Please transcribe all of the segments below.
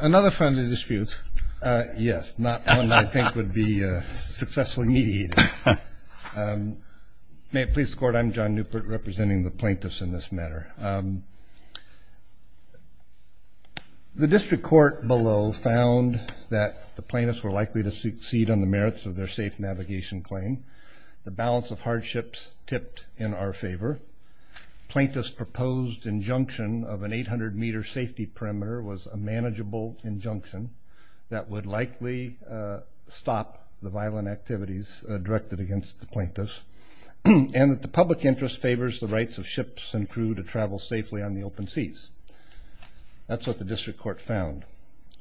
Another friendly dispute. Yes, not one I think would be successfully mediated. May it please the court, I'm John Newport representing the plaintiffs in this matter. The district court below found that the plaintiffs were likely to succeed on the merits of their safe navigation claim. The balance of hardships tipped in our favor. Plaintiffs' proposed injunction of an 800-meter safety perimeter was a manageable injunction that would likely stop the violent activities directed against the plaintiffs and that the public interest favors the rights of ships and crew to travel safely on the open seas. That's what the district court found.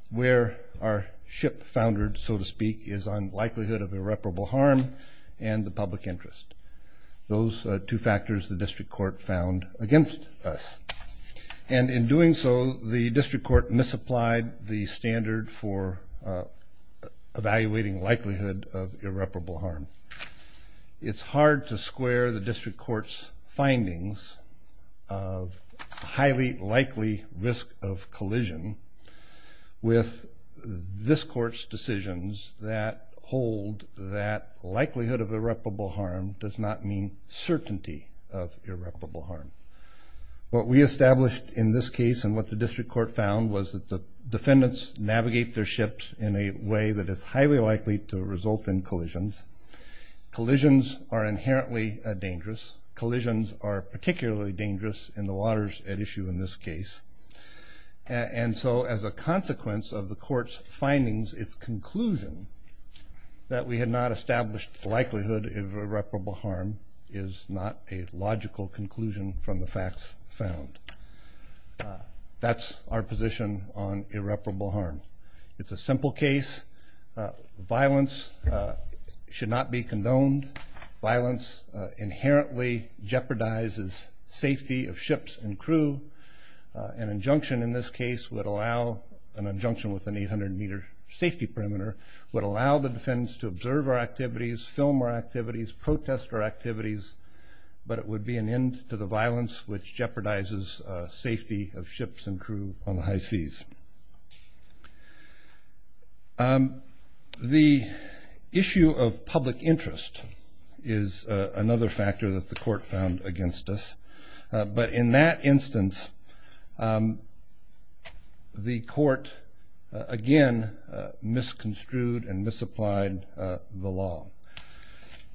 Where our ship foundered, so to speak, is on likelihood of irreparable harm and the public interest. Those are two factors the district court found against us. And in doing so, the district court misapplied the standard for evaluating likelihood of irreparable harm. It's hard to square the district court's findings of highly likely risk of collision with this court's decisions that hold that likelihood of irreparable harm does not mean certainty of irreparable harm. What we established in this case and what the district court found was that the defendants navigate their ships in a way that is highly likely to result in collisions. Collisions are inherently dangerous. Collisions are particularly dangerous in the waters at issue in this case. And so as a consequence of the court's findings, its conclusion that we had not established the likelihood of irreparable harm is not a logical conclusion from the facts found. That's our position on irreparable harm. It's a simple case. Violence should not be condoned. Violence inherently jeopardizes safety of ships and crew. An injunction in this case would allow an injunction with an 800-meter safety perimeter would allow the defendants to observe our activities, film our activities, protest our activities, but it would be an end to the violence which jeopardizes safety of ships and crew on the high seas. The issue of public interest is another factor that the court found against us. But in that instance, the court, again, misconstrued and misapplied the law.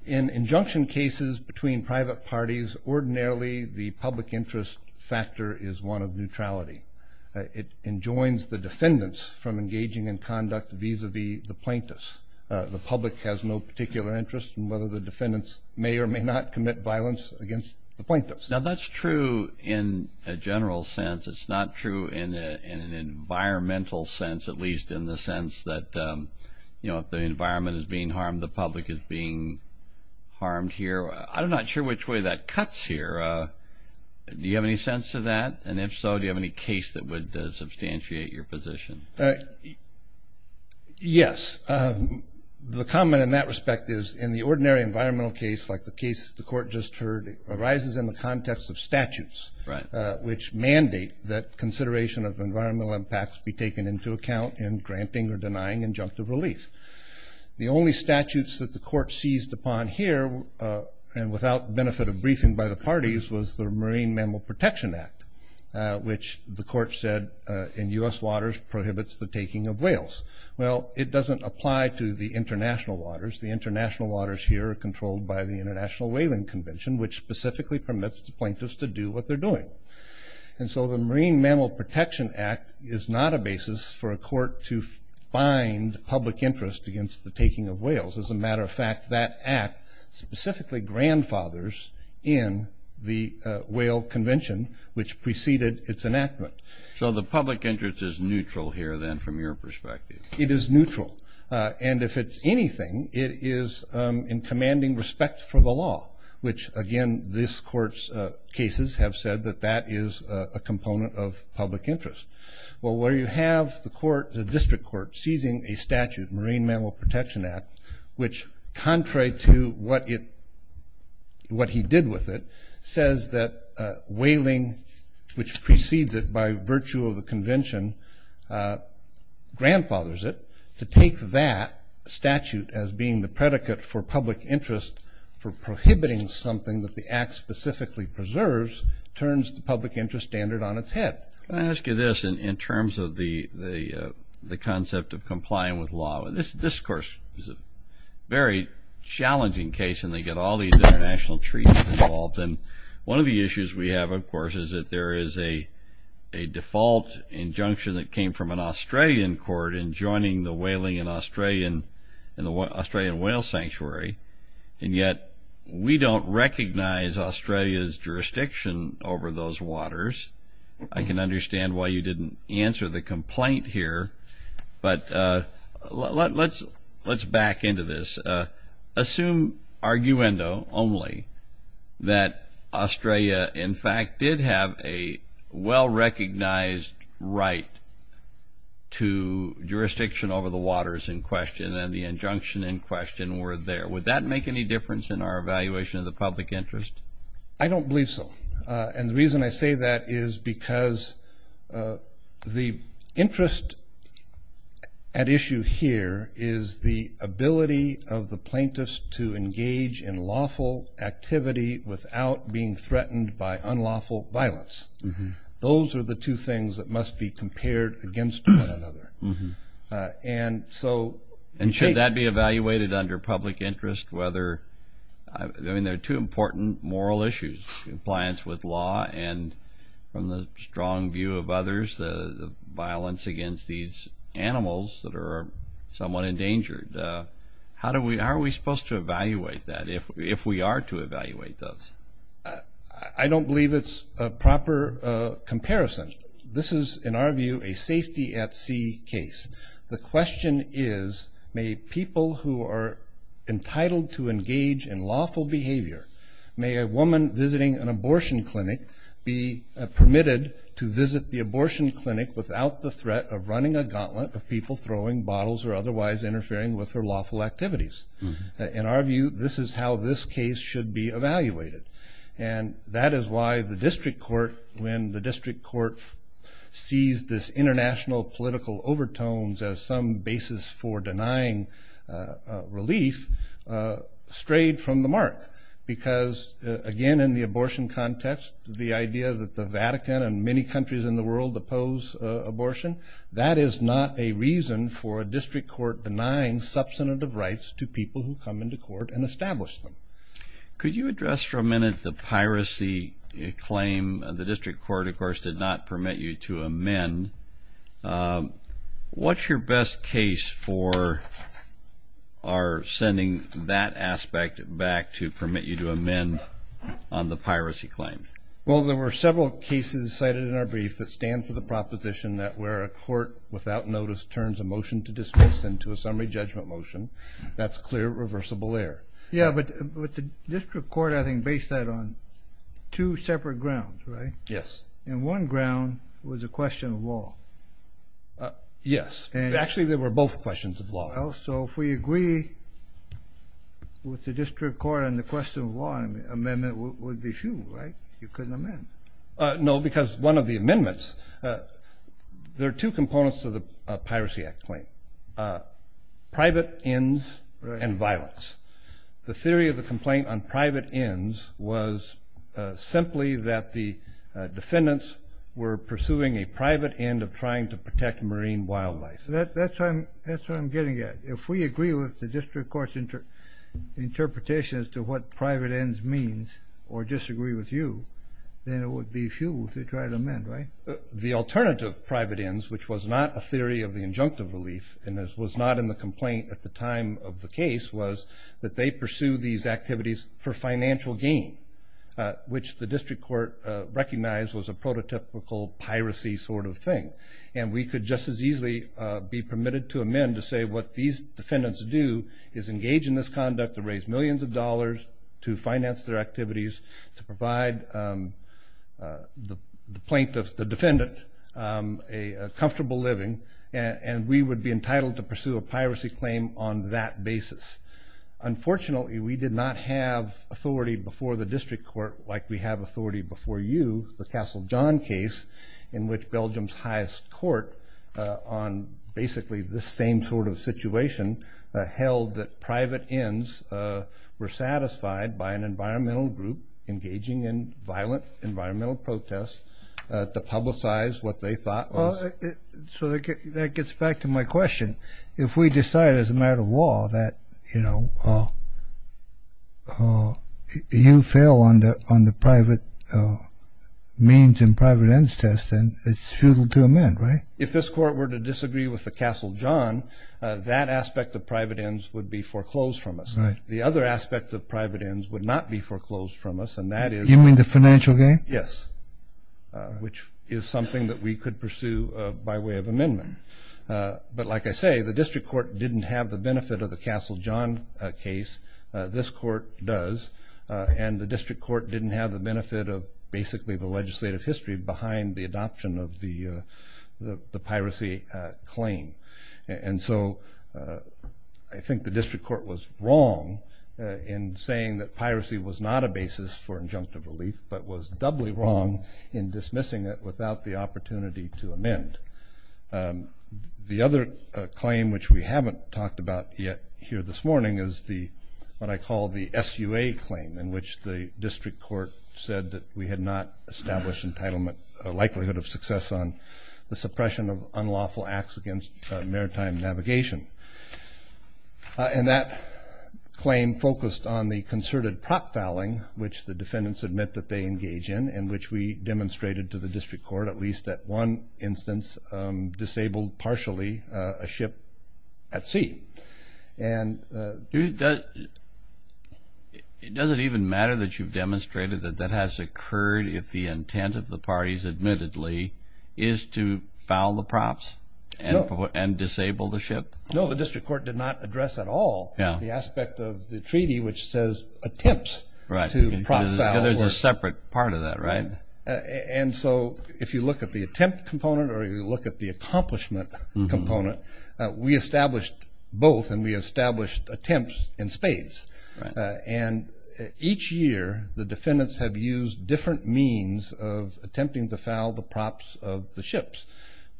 In injunction cases between private parties, ordinarily the public interest factor is one of neutrality. It enjoins the defendants from engaging in conduct vis-a-vis the plaintiffs. The public has no particular interest in whether the defendants may or may not commit violence against the plaintiffs. Now, that's true in a general sense. It's not true in an environmental sense, at least in the sense that, you know, if the environment is being harmed, the public is being harmed here. I'm not sure which way that cuts here. Do you have any sense of that? And if so, do you have any case that would substantiate your position? Yes. The comment in that respect is, in the ordinary environmental case, like the case the court just heard, arises in the context of statutes, which mandate that consideration of environmental impacts be taken into account in granting or denying injunctive relief. The only statutes that the court seized upon here, and without benefit of briefing by the parties, was the Marine Mammal Protection Act, which the court said in U.S. waters prohibits the taking of whales. Well, it doesn't apply to the international waters. The international waters here are controlled by the International Whaling Convention, which specifically permits the plaintiffs to do what they're doing. And so the Marine Mammal Protection Act is not a basis for a court to find public interest against the taking of whales. As a matter of fact, that act specifically grandfathers in the whale convention, which preceded its enactment. So the public interest is neutral here then from your perspective? It is neutral. And if it's anything, it is in commanding respect for the law, which again this court's cases have said that that is a component of public interest. Well, where you have the court, the district court, seizing a statute, Marine Mammal Protection Act, which contrary to what he did with it, says that whaling, which precedes it by virtue of the convention, grandfathers it, to take that statute as being the predicate for public interest for prohibiting something that the act specifically preserves, turns the public interest standard on its head. Can I ask you this in terms of the concept of complying with law? This, of course, is a very challenging case, and they get all these international treaties involved. And one of the issues we have, of course, is that there is a default injunction that came from an Australian court in joining the whaling in the Australian Whale Sanctuary, and yet we don't recognize Australia's jurisdiction over those waters. I can understand why you didn't answer the complaint here, but let's back into this. Assume, arguendo only, that Australia, in fact, did have a well-recognized right to jurisdiction over the waters in question, and the injunction in question were there. Would that make any difference in our evaluation of the public interest? I don't believe so. And the reason I say that is because the interest at issue here is the ability of the plaintiffs to engage in lawful activity without being threatened by unlawful violence. Those are the two things that must be compared against one another. And should that be evaluated under public interest? I mean, there are two important moral issues, compliance with law and, from the strong view of others, the violence against these animals that are somewhat endangered. How are we supposed to evaluate that if we are to evaluate those? I don't believe it's a proper comparison. This is, in our view, a safety at sea case. The question is, may people who are entitled to engage in lawful behavior, may a woman visiting an abortion clinic be permitted to visit the abortion clinic without the threat of running a gauntlet of people throwing bottles or otherwise interfering with her lawful activities. In our view, this is how this case should be evaluated. And that is why the district court, when the district court sees this international political overtones as some basis for denying relief, strayed from the mark. Because, again, in the abortion context, the idea that the Vatican and many countries in the world oppose abortion, that is not a reason for a district court denying substantive rights to people who come into court and establish them. Could you address for a minute the piracy claim? The district court, of course, did not permit you to amend. What's your best case for our sending that aspect back to permit you to amend on the piracy claim? Well, there were several cases cited in our brief that stand for the proposition that where a court, without notice, turns a motion to dismiss into a summary judgment motion, that's clear, reversible error. Yeah, but the district court, I think, based that on two separate grounds, right? Yes. And one ground was a question of law. Yes. Actually, they were both questions of law. So if we agree with the district court on the question of law, an amendment would be hew, right? You couldn't amend. No, because one of the amendments, there are two components to the Piracy Act claim, private ends and violence. The theory of the complaint on private ends was simply that the defendants were pursuing a private end of trying to protect marine wildlife. That's what I'm getting at. If we agree with the district court's interpretation as to what private ends means or disagree with you, then it would be hew to try to amend, right? The alternative private ends, which was not a theory of the injunctive relief and was not in the complaint at the time of the case, was that they pursue these activities for financial gain, which the district court recognized was a prototypical piracy sort of thing. And we could just as easily be permitted to amend to say what these defendants do is engage in this conduct to raise millions of dollars to finance their activities, to provide the plaintiff, the defendant, a comfortable living, and we would be entitled to pursue a piracy claim on that basis. Unfortunately, we did not have authority before the district court like we have authority before you, the Castle John case, in which Belgium's highest court, on basically the same sort of situation, held that private ends were satisfied by an environmental group engaging in violent environmental protests to publicize what they thought was. So that gets back to my question. If we decide as a matter of law that you fail on the private means and private ends test, then it's futile to amend, right? If this court were to disagree with the Castle John, that aspect of private ends would be foreclosed from us. The other aspect of private ends would not be foreclosed from us, and that is- You mean the financial gain? Yes, which is something that we could pursue by way of amendment. But like I say, the district court didn't have the benefit of the Castle John case. This court does. And the district court didn't have the benefit of basically the legislative history behind the adoption of the piracy claim. And so I think the district court was wrong in saying that piracy was not a basis for injunctive relief, but was doubly wrong in dismissing it without the opportunity to amend. The other claim, which we haven't talked about yet here this morning, is what I call the SUA claim, in which the district court said that we had not established a likelihood of success on the suppression of unlawful acts against maritime navigation. And that claim focused on the concerted prop fouling, which the defendants admit that they engage in and which we demonstrated to the district court, at least at one instance, disabled partially a ship at sea. And does it even matter that you've demonstrated that that has occurred if the intent of the parties, admittedly, is to foul the props and disable the ship? No, the district court did not address at all the aspect of the treaty, which says attempts to prop foul. There's a separate part of that, right? And so if you look at the attempt component or you look at the accomplishment component, we established both and we established attempts in spades. And each year the defendants have used different means of attempting to foul the props of the ships.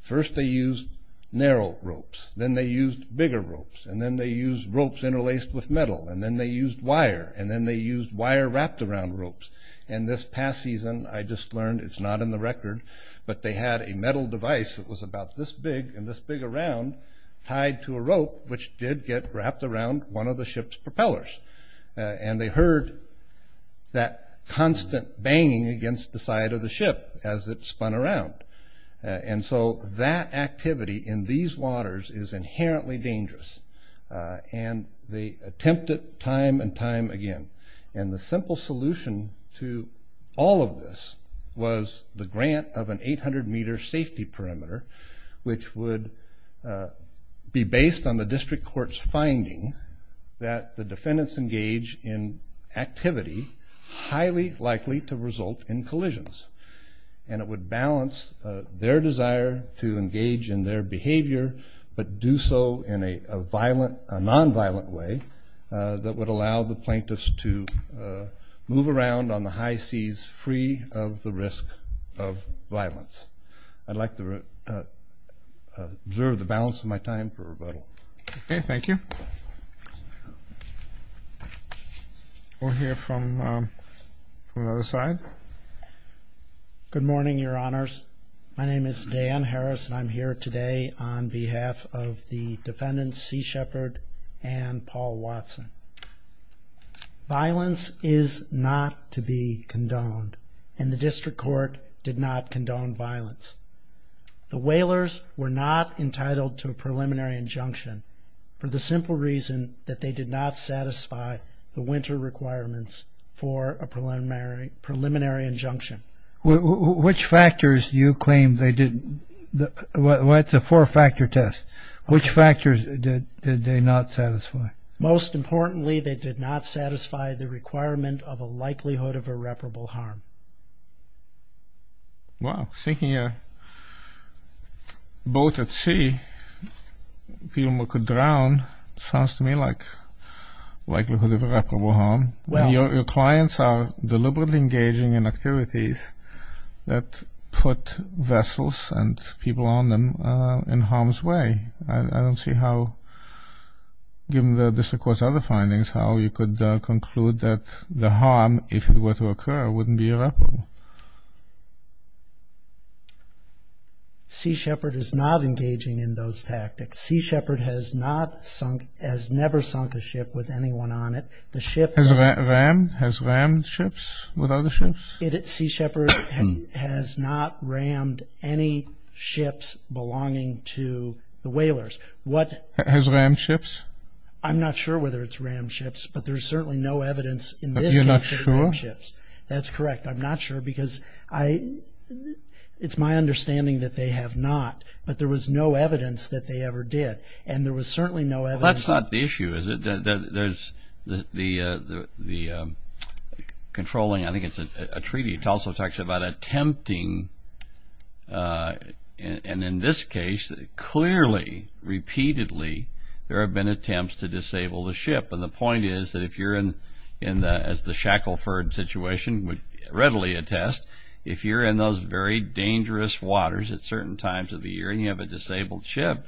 First they used narrow ropes. Then they used bigger ropes. And then they used ropes interlaced with metal. And then they used wire. And then they used wire wrapped around ropes. But they had a metal device that was about this big and this big around tied to a rope, which did get wrapped around one of the ship's propellers. And they heard that constant banging against the side of the ship as it spun around. And so that activity in these waters is inherently dangerous. And they attempted time and time again. And the simple solution to all of this was the grant of an 800-meter safety perimeter, which would be based on the district court's finding that the defendants engage in activity highly likely to result in collisions. And it would balance their desire to engage in their behavior, but do so in a nonviolent way that would allow the plaintiffs to move around on the high seas free of the risk of violence. I'd like to observe the balance of my time for rebuttal. Okay, thank you. We'll hear from the other side. Good morning, Your Honors. My name is Dan Harris, and I'm here today on behalf of the defendants, C. Shepard and Paul Watson. Violence is not to be condoned, and the district court did not condone violence. The Whalers were not entitled to a preliminary injunction for the simple reason that they did not satisfy the winter requirements for a preliminary injunction. Which factors do you claim they did? It's a four-factor test. Which factors did they not satisfy? Most importantly, they did not satisfy the requirement of a likelihood of irreparable harm. Wow, sinking a boat at sea, people could drown, sounds to me like likelihood of irreparable harm. Your clients are deliberately engaging in activities that put vessels and people on them in harm's way. I don't see how, given the district court's other findings, how you could conclude that the harm, if it were to occur, wouldn't be irreparable. C. Shepard is not engaging in those tactics. C. Shepard has never sunk a ship with anyone on it. Has rammed ships with other ships? C. Shepard has not rammed any ships belonging to the Whalers. Has rammed ships? I'm not sure whether it's rammed ships, but there's certainly no evidence in this case that it's rammed ships. That's correct. I'm not sure because it's my understanding that they have not, but there was no evidence that they ever did. Well, that's not the issue, is it? There's the controlling, I think it's a treaty, it also talks about attempting, and in this case, clearly, repeatedly, there have been attempts to disable the ship. And the point is that if you're in, as the Shackleford situation would readily attest, if you're in those very dangerous waters at certain times of the year and you have a disabled ship,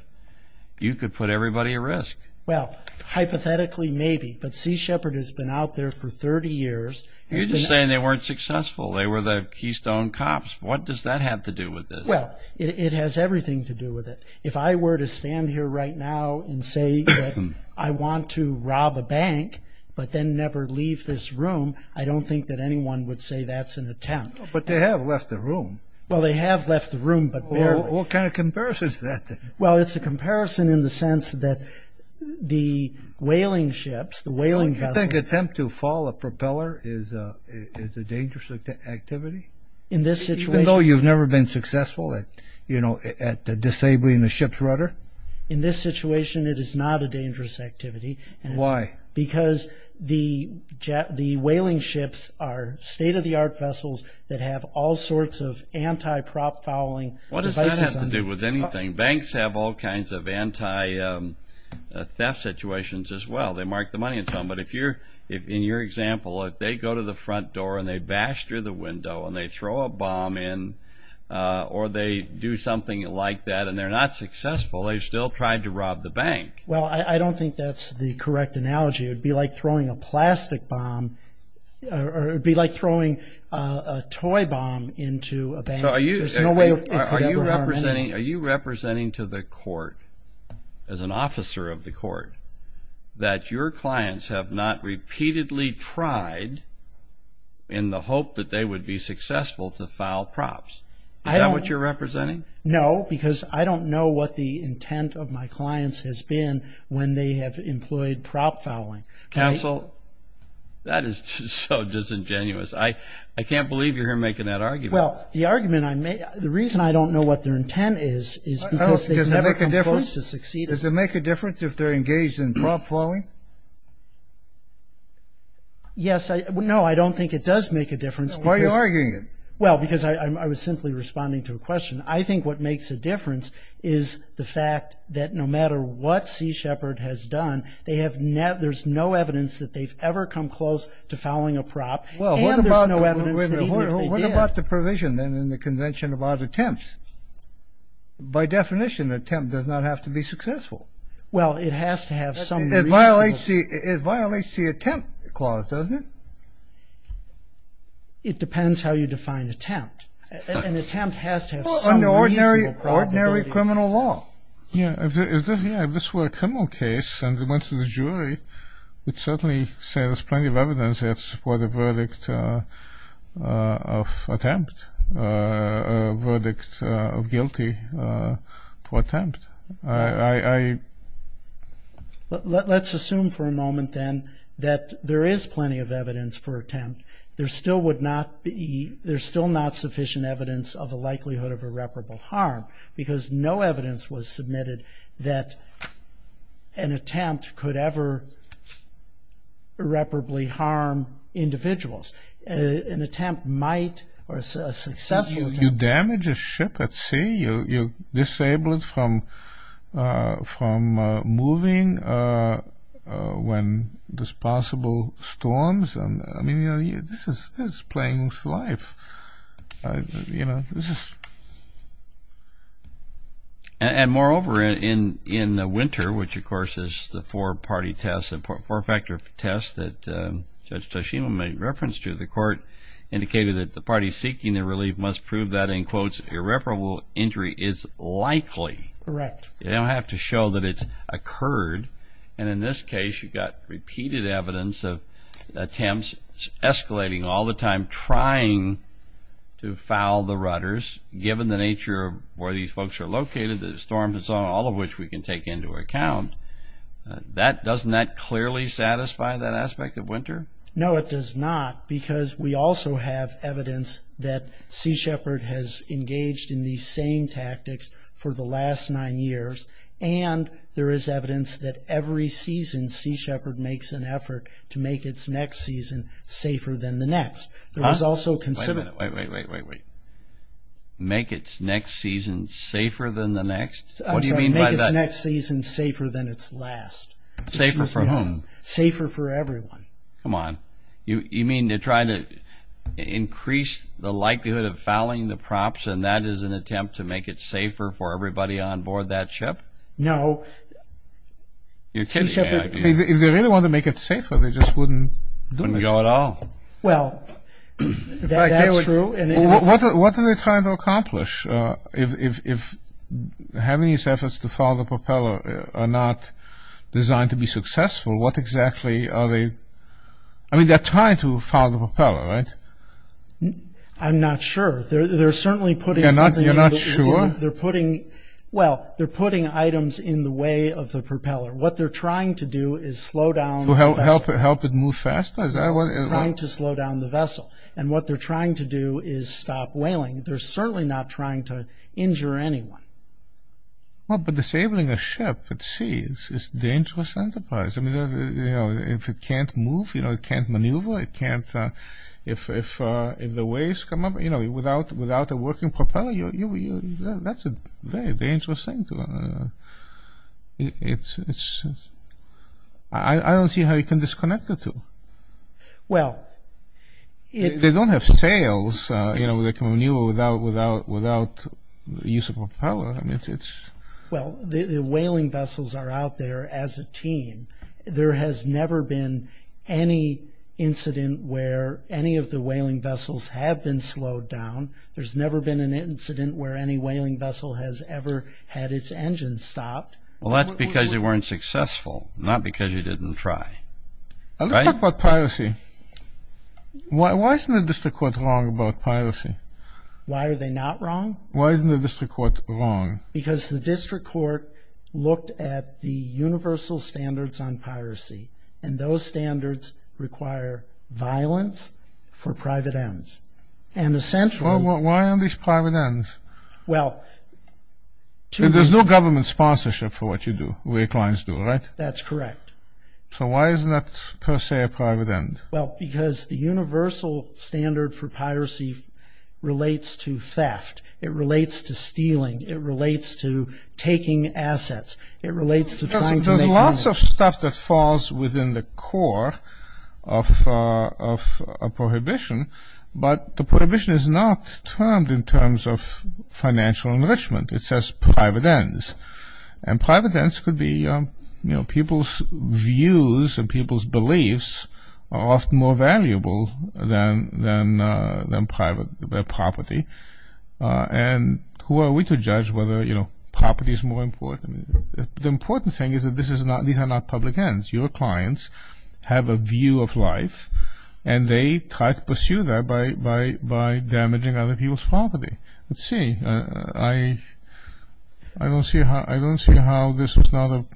you could put everybody at risk. Well, hypothetically, maybe, but C. Shepard has been out there for 30 years. You're just saying they weren't successful. They were the keystone cops. What does that have to do with this? Well, it has everything to do with it. If I were to stand here right now and say that I want to rob a bank, but then never leave this room, I don't think that anyone would say that's an attempt. But they have left the room. Well, they have left the room, but barely. What kind of comparison is that? Well, it's a comparison in the sense that the whaling ships, the whaling vessels... You think an attempt to fall a propeller is a dangerous activity? In this situation... Even though you've never been successful at disabling the ship's rudder? In this situation, it is not a dangerous activity. Why? Because the whaling ships are state-of-the-art vessels that have all sorts of anti-prop fouling devices on them. What does that have to do with anything? Banks have all kinds of anti-theft situations as well. They mark the money and so on. But in your example, if they go to the front door and they bash through the window and they throw a bomb in or they do something like that and they're not successful, they still tried to rob the bank. Well, I don't think that's the correct analogy. It would be like throwing a plastic bomb or it would be like throwing a toy bomb into a bank. There's no way it could ever harm anyone. Are you representing to the court, as an officer of the court, that your clients have not repeatedly tried in the hope that they would be successful to file props? Is that what you're representing? No, because I don't know what the intent of my clients has been when they have employed prop fouling. Counsel, that is so disingenuous. I can't believe you're here making that argument. Well, the argument I make, the reason I don't know what their intent is, is because they've never come close to succeeding. Does it make a difference if they're engaged in prop fouling? Yes. No, I don't think it does make a difference. Why are you arguing it? Well, because I was simply responding to a question. I think what makes a difference is the fact that no matter what Sea Shepherd has done, there's no evidence that they've ever come close to fouling a prop, and there's no evidence that even if they did. What about the provision then in the convention about attempts? By definition, an attempt does not have to be successful. Well, it has to have some reason. It violates the attempt clause, doesn't it? It depends how you define attempt. An attempt has to have some reasonable probability. Well, under ordinary criminal law. Yeah, if this were a criminal case and it went to the jury, it certainly says there's plenty of evidence there to support a verdict of attempt, a verdict of guilty for attempt. Let's assume for a moment then that there is plenty of evidence for attempt. There still would not be, there's still not sufficient evidence of the likelihood of irreparable harm because no evidence was submitted that an attempt could ever irreparably harm individuals. An attempt might, or a successful attempt. You damage a ship at sea, you disable it from moving when there's possible storms. I mean, this is playing with life. And moreover, in Winter, which of course is the four-party test, the four-factor test that Judge Toshima made reference to, the court indicated that the party seeking the relief must prove that, in quotes, irreparable injury is likely. Correct. They don't have to show that it's occurred. And in this case, you've got repeated evidence of attempts escalating all the time, trying to foul the rudders given the nature of where these folks are located, the storms and so on, all of which we can take into account. Doesn't that clearly satisfy that aspect of Winter? No, it does not because we also have evidence that Sea Shepherd has engaged in these same tactics for the last nine years, and there is evidence that every season, Sea Shepherd makes an effort to make its next season safer than the next. Wait, wait, wait, wait, wait. Make its next season safer than the next? I'm sorry, make its next season safer than its last. Safer for whom? Safer for everyone. Come on. You mean to try to increase the likelihood of fouling the props, and that is an attempt to make it safer for everybody on board that ship? No. If they really want to make it safer, they just wouldn't go at all. Well, that's true. What are they trying to accomplish? If having these efforts to foul the propeller are not designed to be successful, what exactly are they – I mean, they're trying to foul the propeller, right? I'm not sure. They're certainly putting something – You're not sure? They're putting – well, they're putting items in the way of the propeller. What they're trying to do is slow down – To help it move faster? Trying to slow down the vessel. And what they're trying to do is stop whaling. They're certainly not trying to injure anyone. Well, but disabling a ship at sea is a dangerous enterprise. I mean, if it can't move, it can't maneuver, it can't – If the waves come up, you know, without a working propeller, that's a very dangerous thing to – I don't see how you can disconnect the two. Well, it – They don't have sails, you know, that can maneuver without the use of a propeller. Well, the whaling vessels are out there as a team. There has never been any incident where any of the whaling vessels have been slowed down. There's never been an incident where any whaling vessel has ever had its engine stopped. Well, that's because you weren't successful, not because you didn't try. Let's talk about piracy. Why isn't the district court wrong about piracy? Why are they not wrong? Why isn't the district court wrong? Because the district court looked at the universal standards on piracy, and those standards require violence for private ends. And essentially – Well, why are these private ends? Well, to – There's no government sponsorship for what you do, what your clients do, right? That's correct. So why isn't that, per se, a private end? Well, because the universal standard for piracy relates to theft. It relates to stealing. It relates to taking assets. It relates to trying to make money. There's lots of stuff that falls within the core of a prohibition, but the prohibition is not termed in terms of financial enrichment. It says private ends. And private ends could be people's views and people's beliefs are often more valuable than private property. And who are we to judge whether property is more important? The important thing is that these are not public ends. Your clients have a view of life, and they try to pursue that by damaging other people's property. Let's see. I don't see how this doesn't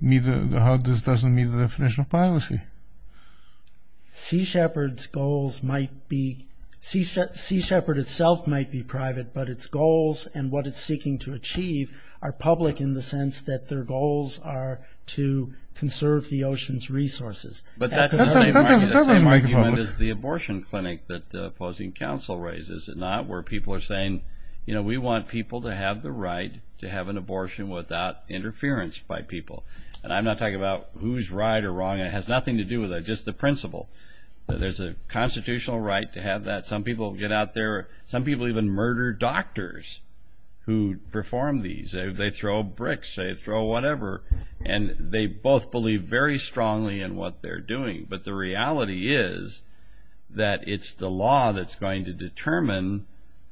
meet the definition of piracy. Sea Shepherd's goals might be – Sea Shepherd itself might be private, but its goals and what it's seeking to achieve are public in the sense that their goals are to conserve the ocean's resources. But that's the same argument as the abortion clinic that opposing counsel raises, is it not, where people are saying, you know, we want people to have the right to have an abortion without interference by people. And I'm not talking about who's right or wrong. It has nothing to do with that, just the principle. There's a constitutional right to have that. Some people get out there. Some people even murder doctors who perform these. They throw bricks. They throw whatever. And they both believe very strongly in what they're doing. But the reality is that it's the law that's going to determine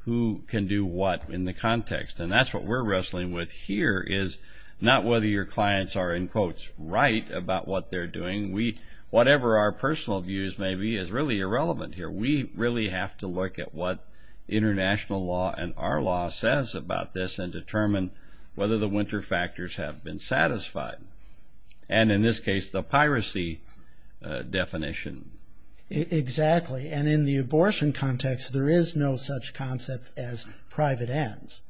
who can do what in the context. And that's what we're wrestling with here is not whether your clients are, in quotes, right about what they're doing. Whatever our personal views may be is really irrelevant here. We really have to look at what international law and our law says about this and determine whether the winter factors have been satisfied. And in this case, the piracy definition. Exactly. And in the abortion context, there is no such concept as private ends.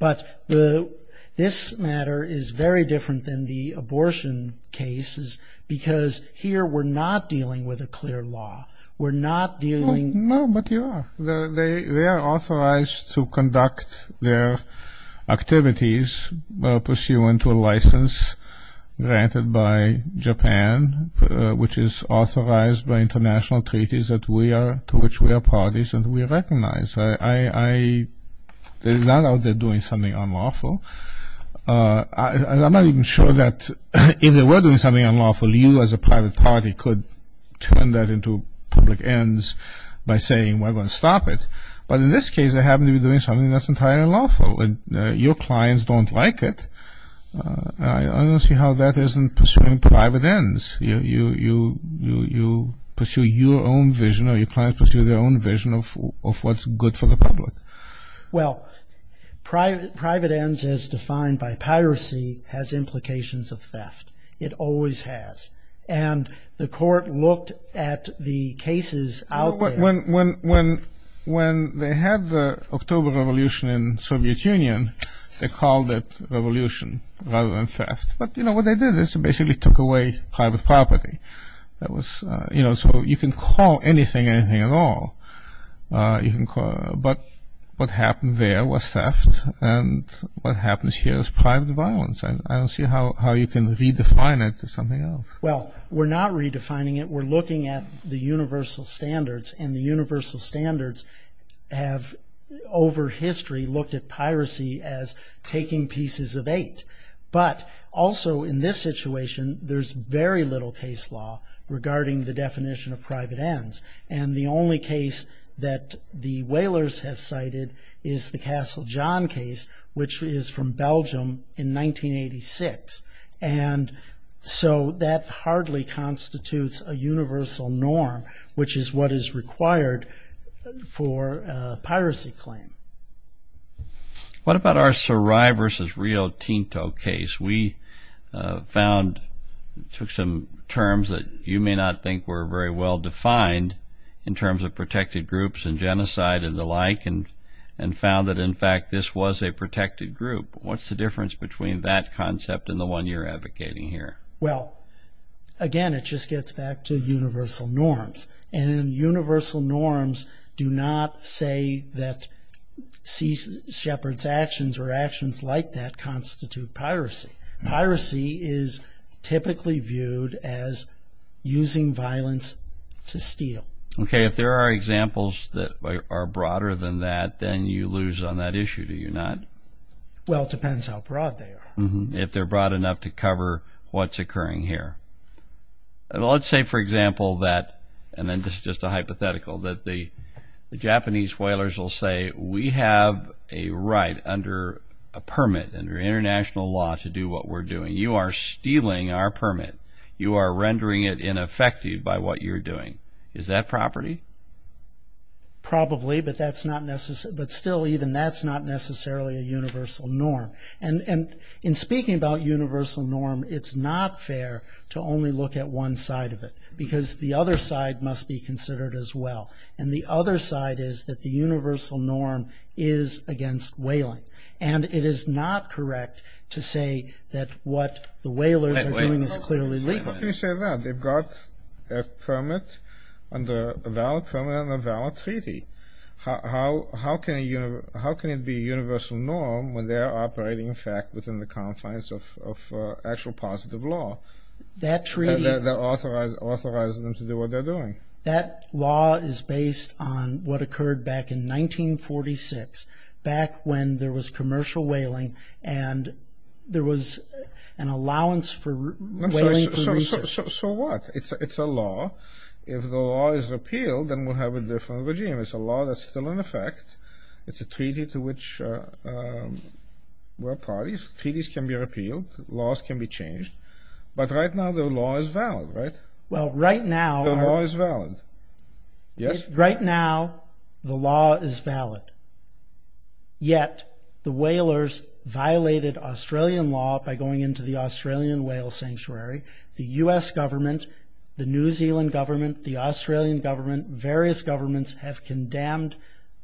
But this matter is very different than the abortion cases because here we're not dealing with a clear law. We're not dealing. No, but you are. They are authorized to conduct their activities pursuant to a license granted by Japan, which is authorized by international treaties to which we are parties and we recognize. There is none out there doing something unlawful. I'm not even sure that if they were doing something unlawful, you as a private party could turn that into public ends by saying we're going to stop it. But in this case, they happen to be doing something that's entirely unlawful and your clients don't like it. I don't see how that isn't pursuing private ends. You pursue your own vision or your clients pursue their own vision of what's good for the public. Well, private ends as defined by piracy has implications of theft. It always has. And the court looked at the cases out there. When they had the October Revolution in Soviet Union, they called it revolution rather than theft. But, you know, what they did is they basically took away private property. That was, you know, so you can call anything anything at all. But what happened there was theft and what happens here is private violence. I don't see how you can redefine it to something else. Well, we're not redefining it. We're looking at the universal standards, and the universal standards have over history looked at piracy as taking pieces of eight. But also in this situation, there's very little case law regarding the definition of private ends. And the only case that the Whalers have cited is the Castle John case, which is from Belgium in 1986. And so that hardly constitutes a universal norm, which is what is required for a piracy claim. What about our Sarai versus Rio Tinto case? We found, took some terms that you may not think were very well defined in terms of protected groups and genocide and the like, and found that, in fact, this was a protected group. What's the difference between that concept and the one you're advocating here? Well, again, it just gets back to universal norms. And universal norms do not say that Sea Shepherd's actions or actions like that constitute piracy. Piracy is typically viewed as using violence to steal. Okay, if there are examples that are broader than that, then you lose on that issue, do you not? Well, it depends how broad they are. If they're broad enough to cover what's occurring here. Let's say, for example, that, and then this is just a hypothetical, that the Japanese Whalers will say, we have a right under a permit, under international law, to do what we're doing. You are stealing our permit. You are rendering it ineffective by what you're doing. Is that property? Probably, but still even that's not necessarily a universal norm. And in speaking about universal norm, it's not fair to only look at one side of it, because the other side must be considered as well. And the other side is that the universal norm is against whaling. And it is not correct to say that what the whalers are doing is clearly legal. How can you say that? They've got a permit, a valid permit and a valid treaty. How can it be a universal norm when they're operating, in fact, within the confines of actual positive law that authorizes them to do what they're doing? That law is based on what occurred back in 1946, back when there was commercial whaling and there was an allowance for whaling. So what? It's a law. If the law is repealed, then we'll have a different regime. It's a law that's still in effect. It's a treaty to which we're parties. Treaties can be repealed. Laws can be changed. But right now the law is valid, right? Well, right now… The law is valid. Right now the law is valid. Yet the whalers violated Australian law by going into the Australian whale sanctuary. The U.S. government, the New Zealand government, the Australian government, various governments have condemned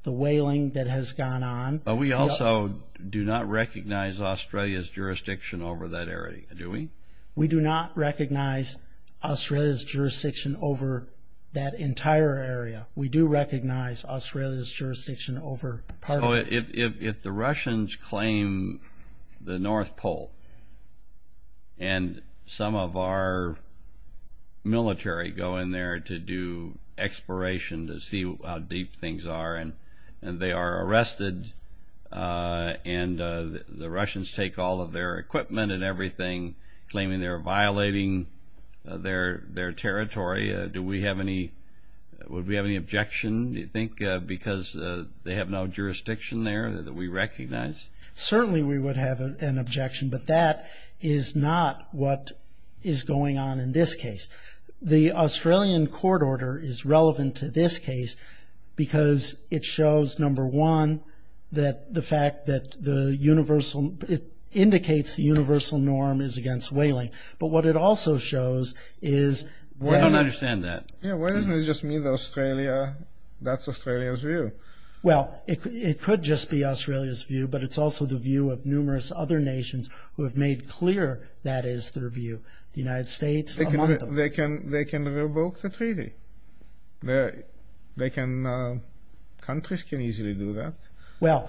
the whaling that has gone on. But we also do not recognize Australia's jurisdiction over that area, do we? We do not recognize Australia's jurisdiction over that entire area. We do recognize Australia's jurisdiction over part of it. So if the Russians claim the North Pole and some of our military go in there to do exploration to see how deep things are and they are arrested and the Russians take all of their equipment and everything, claiming they're violating their territory, because they have no jurisdiction there that we recognize? Certainly we would have an objection. But that is not what is going on in this case. The Australian court order is relevant to this case because it shows, number one, that the fact that it indicates the universal norm is against whaling. But what it also shows is… I don't understand that. Why doesn't it just mean that that's Australia's view? Well, it could just be Australia's view, but it's also the view of numerous other nations who have made clear that is their view. The United States, among them. They can revoke the treaty. Countries can easily do that.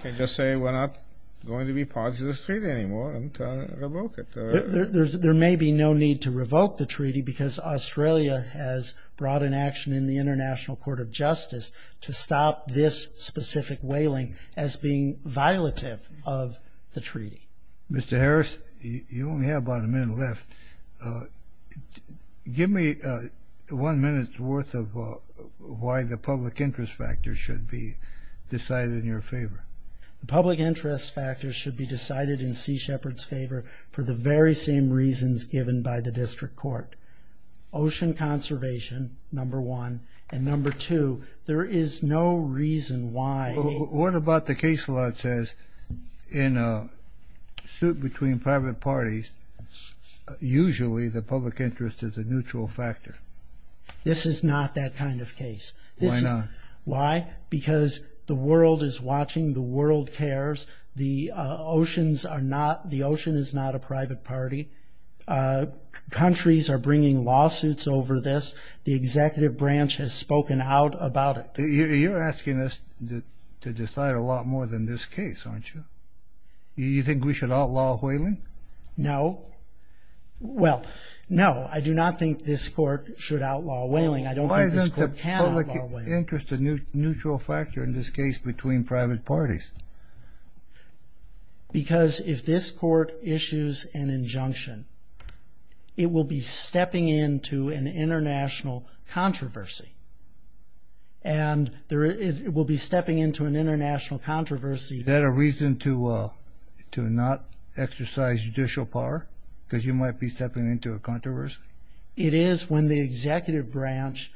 They can just say we're not going to be part of this treaty anymore and revoke it. There may be no need to revoke the treaty because Australia has brought an action in the International Court of Justice to stop this specific whaling as being violative of the treaty. Mr. Harris, you only have about a minute left. Give me one minute's worth of why the public interest factor should be decided in your favor. The public interest factor should be decided in Sea Shepherd's favor for the very same reasons given by the district court. Ocean conservation, number one. And number two, there is no reason why… What about the case law that says in a suit between private parties, usually the public interest is a neutral factor? This is not that kind of case. Why not? Why? Because the world is watching. The world cares. The oceans are not… The ocean is not a private party. Countries are bringing lawsuits over this. The executive branch has spoken out about it. You're asking us to decide a lot more than this case, aren't you? You think we should outlaw whaling? No. Well, no, I do not think this court should outlaw whaling. Why isn't the public interest a neutral factor in this case between private parties? Because if this court issues an injunction, it will be stepping into an international controversy. And it will be stepping into an international controversy. Is that a reason to not exercise judicial power? Because you might be stepping into a controversy. It is when the executive branch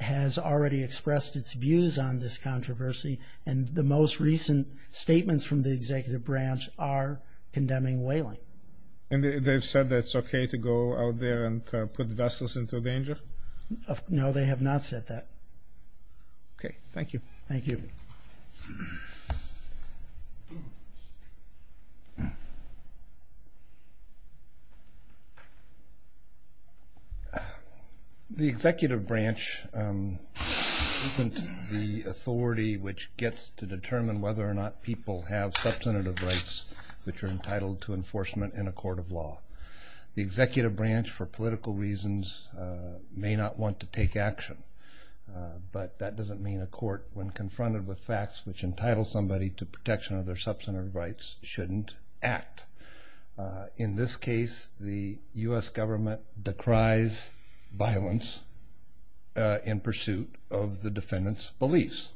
has already expressed its views on this controversy, and the most recent statements from the executive branch are condemning whaling. And they've said that it's okay to go out there and put vessels into danger? No, they have not said that. Okay, thank you. Thank you. The executive branch isn't the authority which gets to determine whether or not people have substantive rights which are entitled to enforcement in a court of law. The executive branch, for political reasons, may not want to take action. But that doesn't mean a court, when confronted with facts which entitle somebody to protection of their substantive rights, shouldn't act. In this case, the U.S. government decries violence in pursuit of the defendant's beliefs.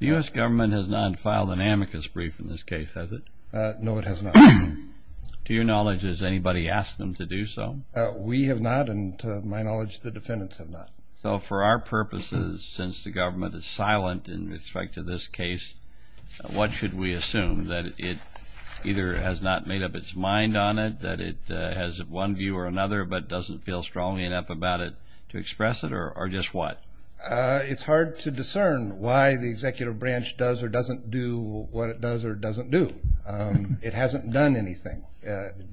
The U.S. government has not filed an amicus brief in this case, has it? No, it has not. To your knowledge, has anybody asked them to do so? We have not, and to my knowledge, the defendants have not. So for our purposes, since the government is silent in respect to this case, what should we assume, that it either has not made up its mind on it, that it has one view or another, but doesn't feel strongly enough about it to express it, or just what? It's hard to discern why the executive branch does or doesn't do what it does or doesn't do. It hasn't done anything.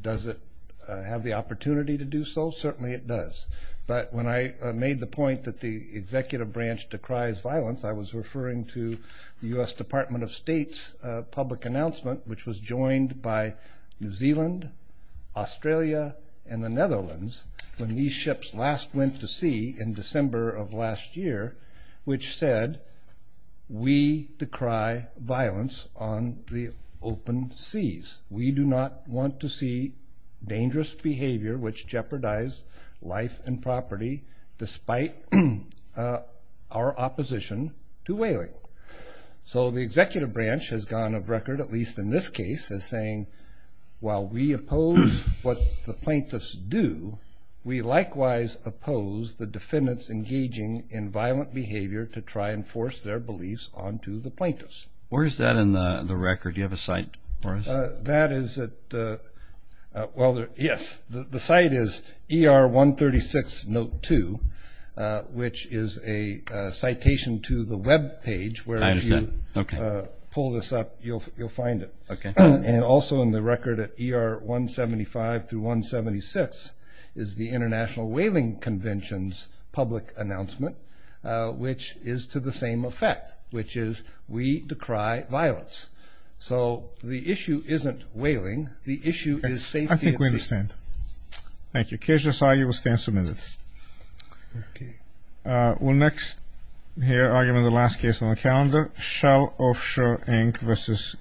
Does it have the opportunity to do so? Certainly it does. But when I made the point that the executive branch decries violence, I was referring to the U.S. Department of State's public announcement, which was joined by New Zealand, Australia, and the Netherlands, when these ships last went to sea in December of last year, which said, we decry violence on the open seas. We do not want to see dangerous behavior which jeopardize life and property, despite our opposition to whaling. So the executive branch has gone on record, at least in this case, as saying, while we oppose what the plaintiffs do, we likewise oppose the defendants engaging in violent behavior to try and force their beliefs onto the plaintiffs. Where is that in the record? Do you have a site for us? That is at the ‑‑ well, yes. The site is ER 136 Note 2, which is a citation to the web page, where if you pull this up, you'll find it. And also in the record at ER 175 through 176 is the International Whaling Convention's public announcement, which is to the same effect, which is, we decry violence. So the issue isn't whaling. The issue is safety at sea. I think we understand. Thank you. Case just argued. We'll stand submitted. Okay. We'll next hear argument of the last case on the calendar. Shell Offshore, Inc. vs.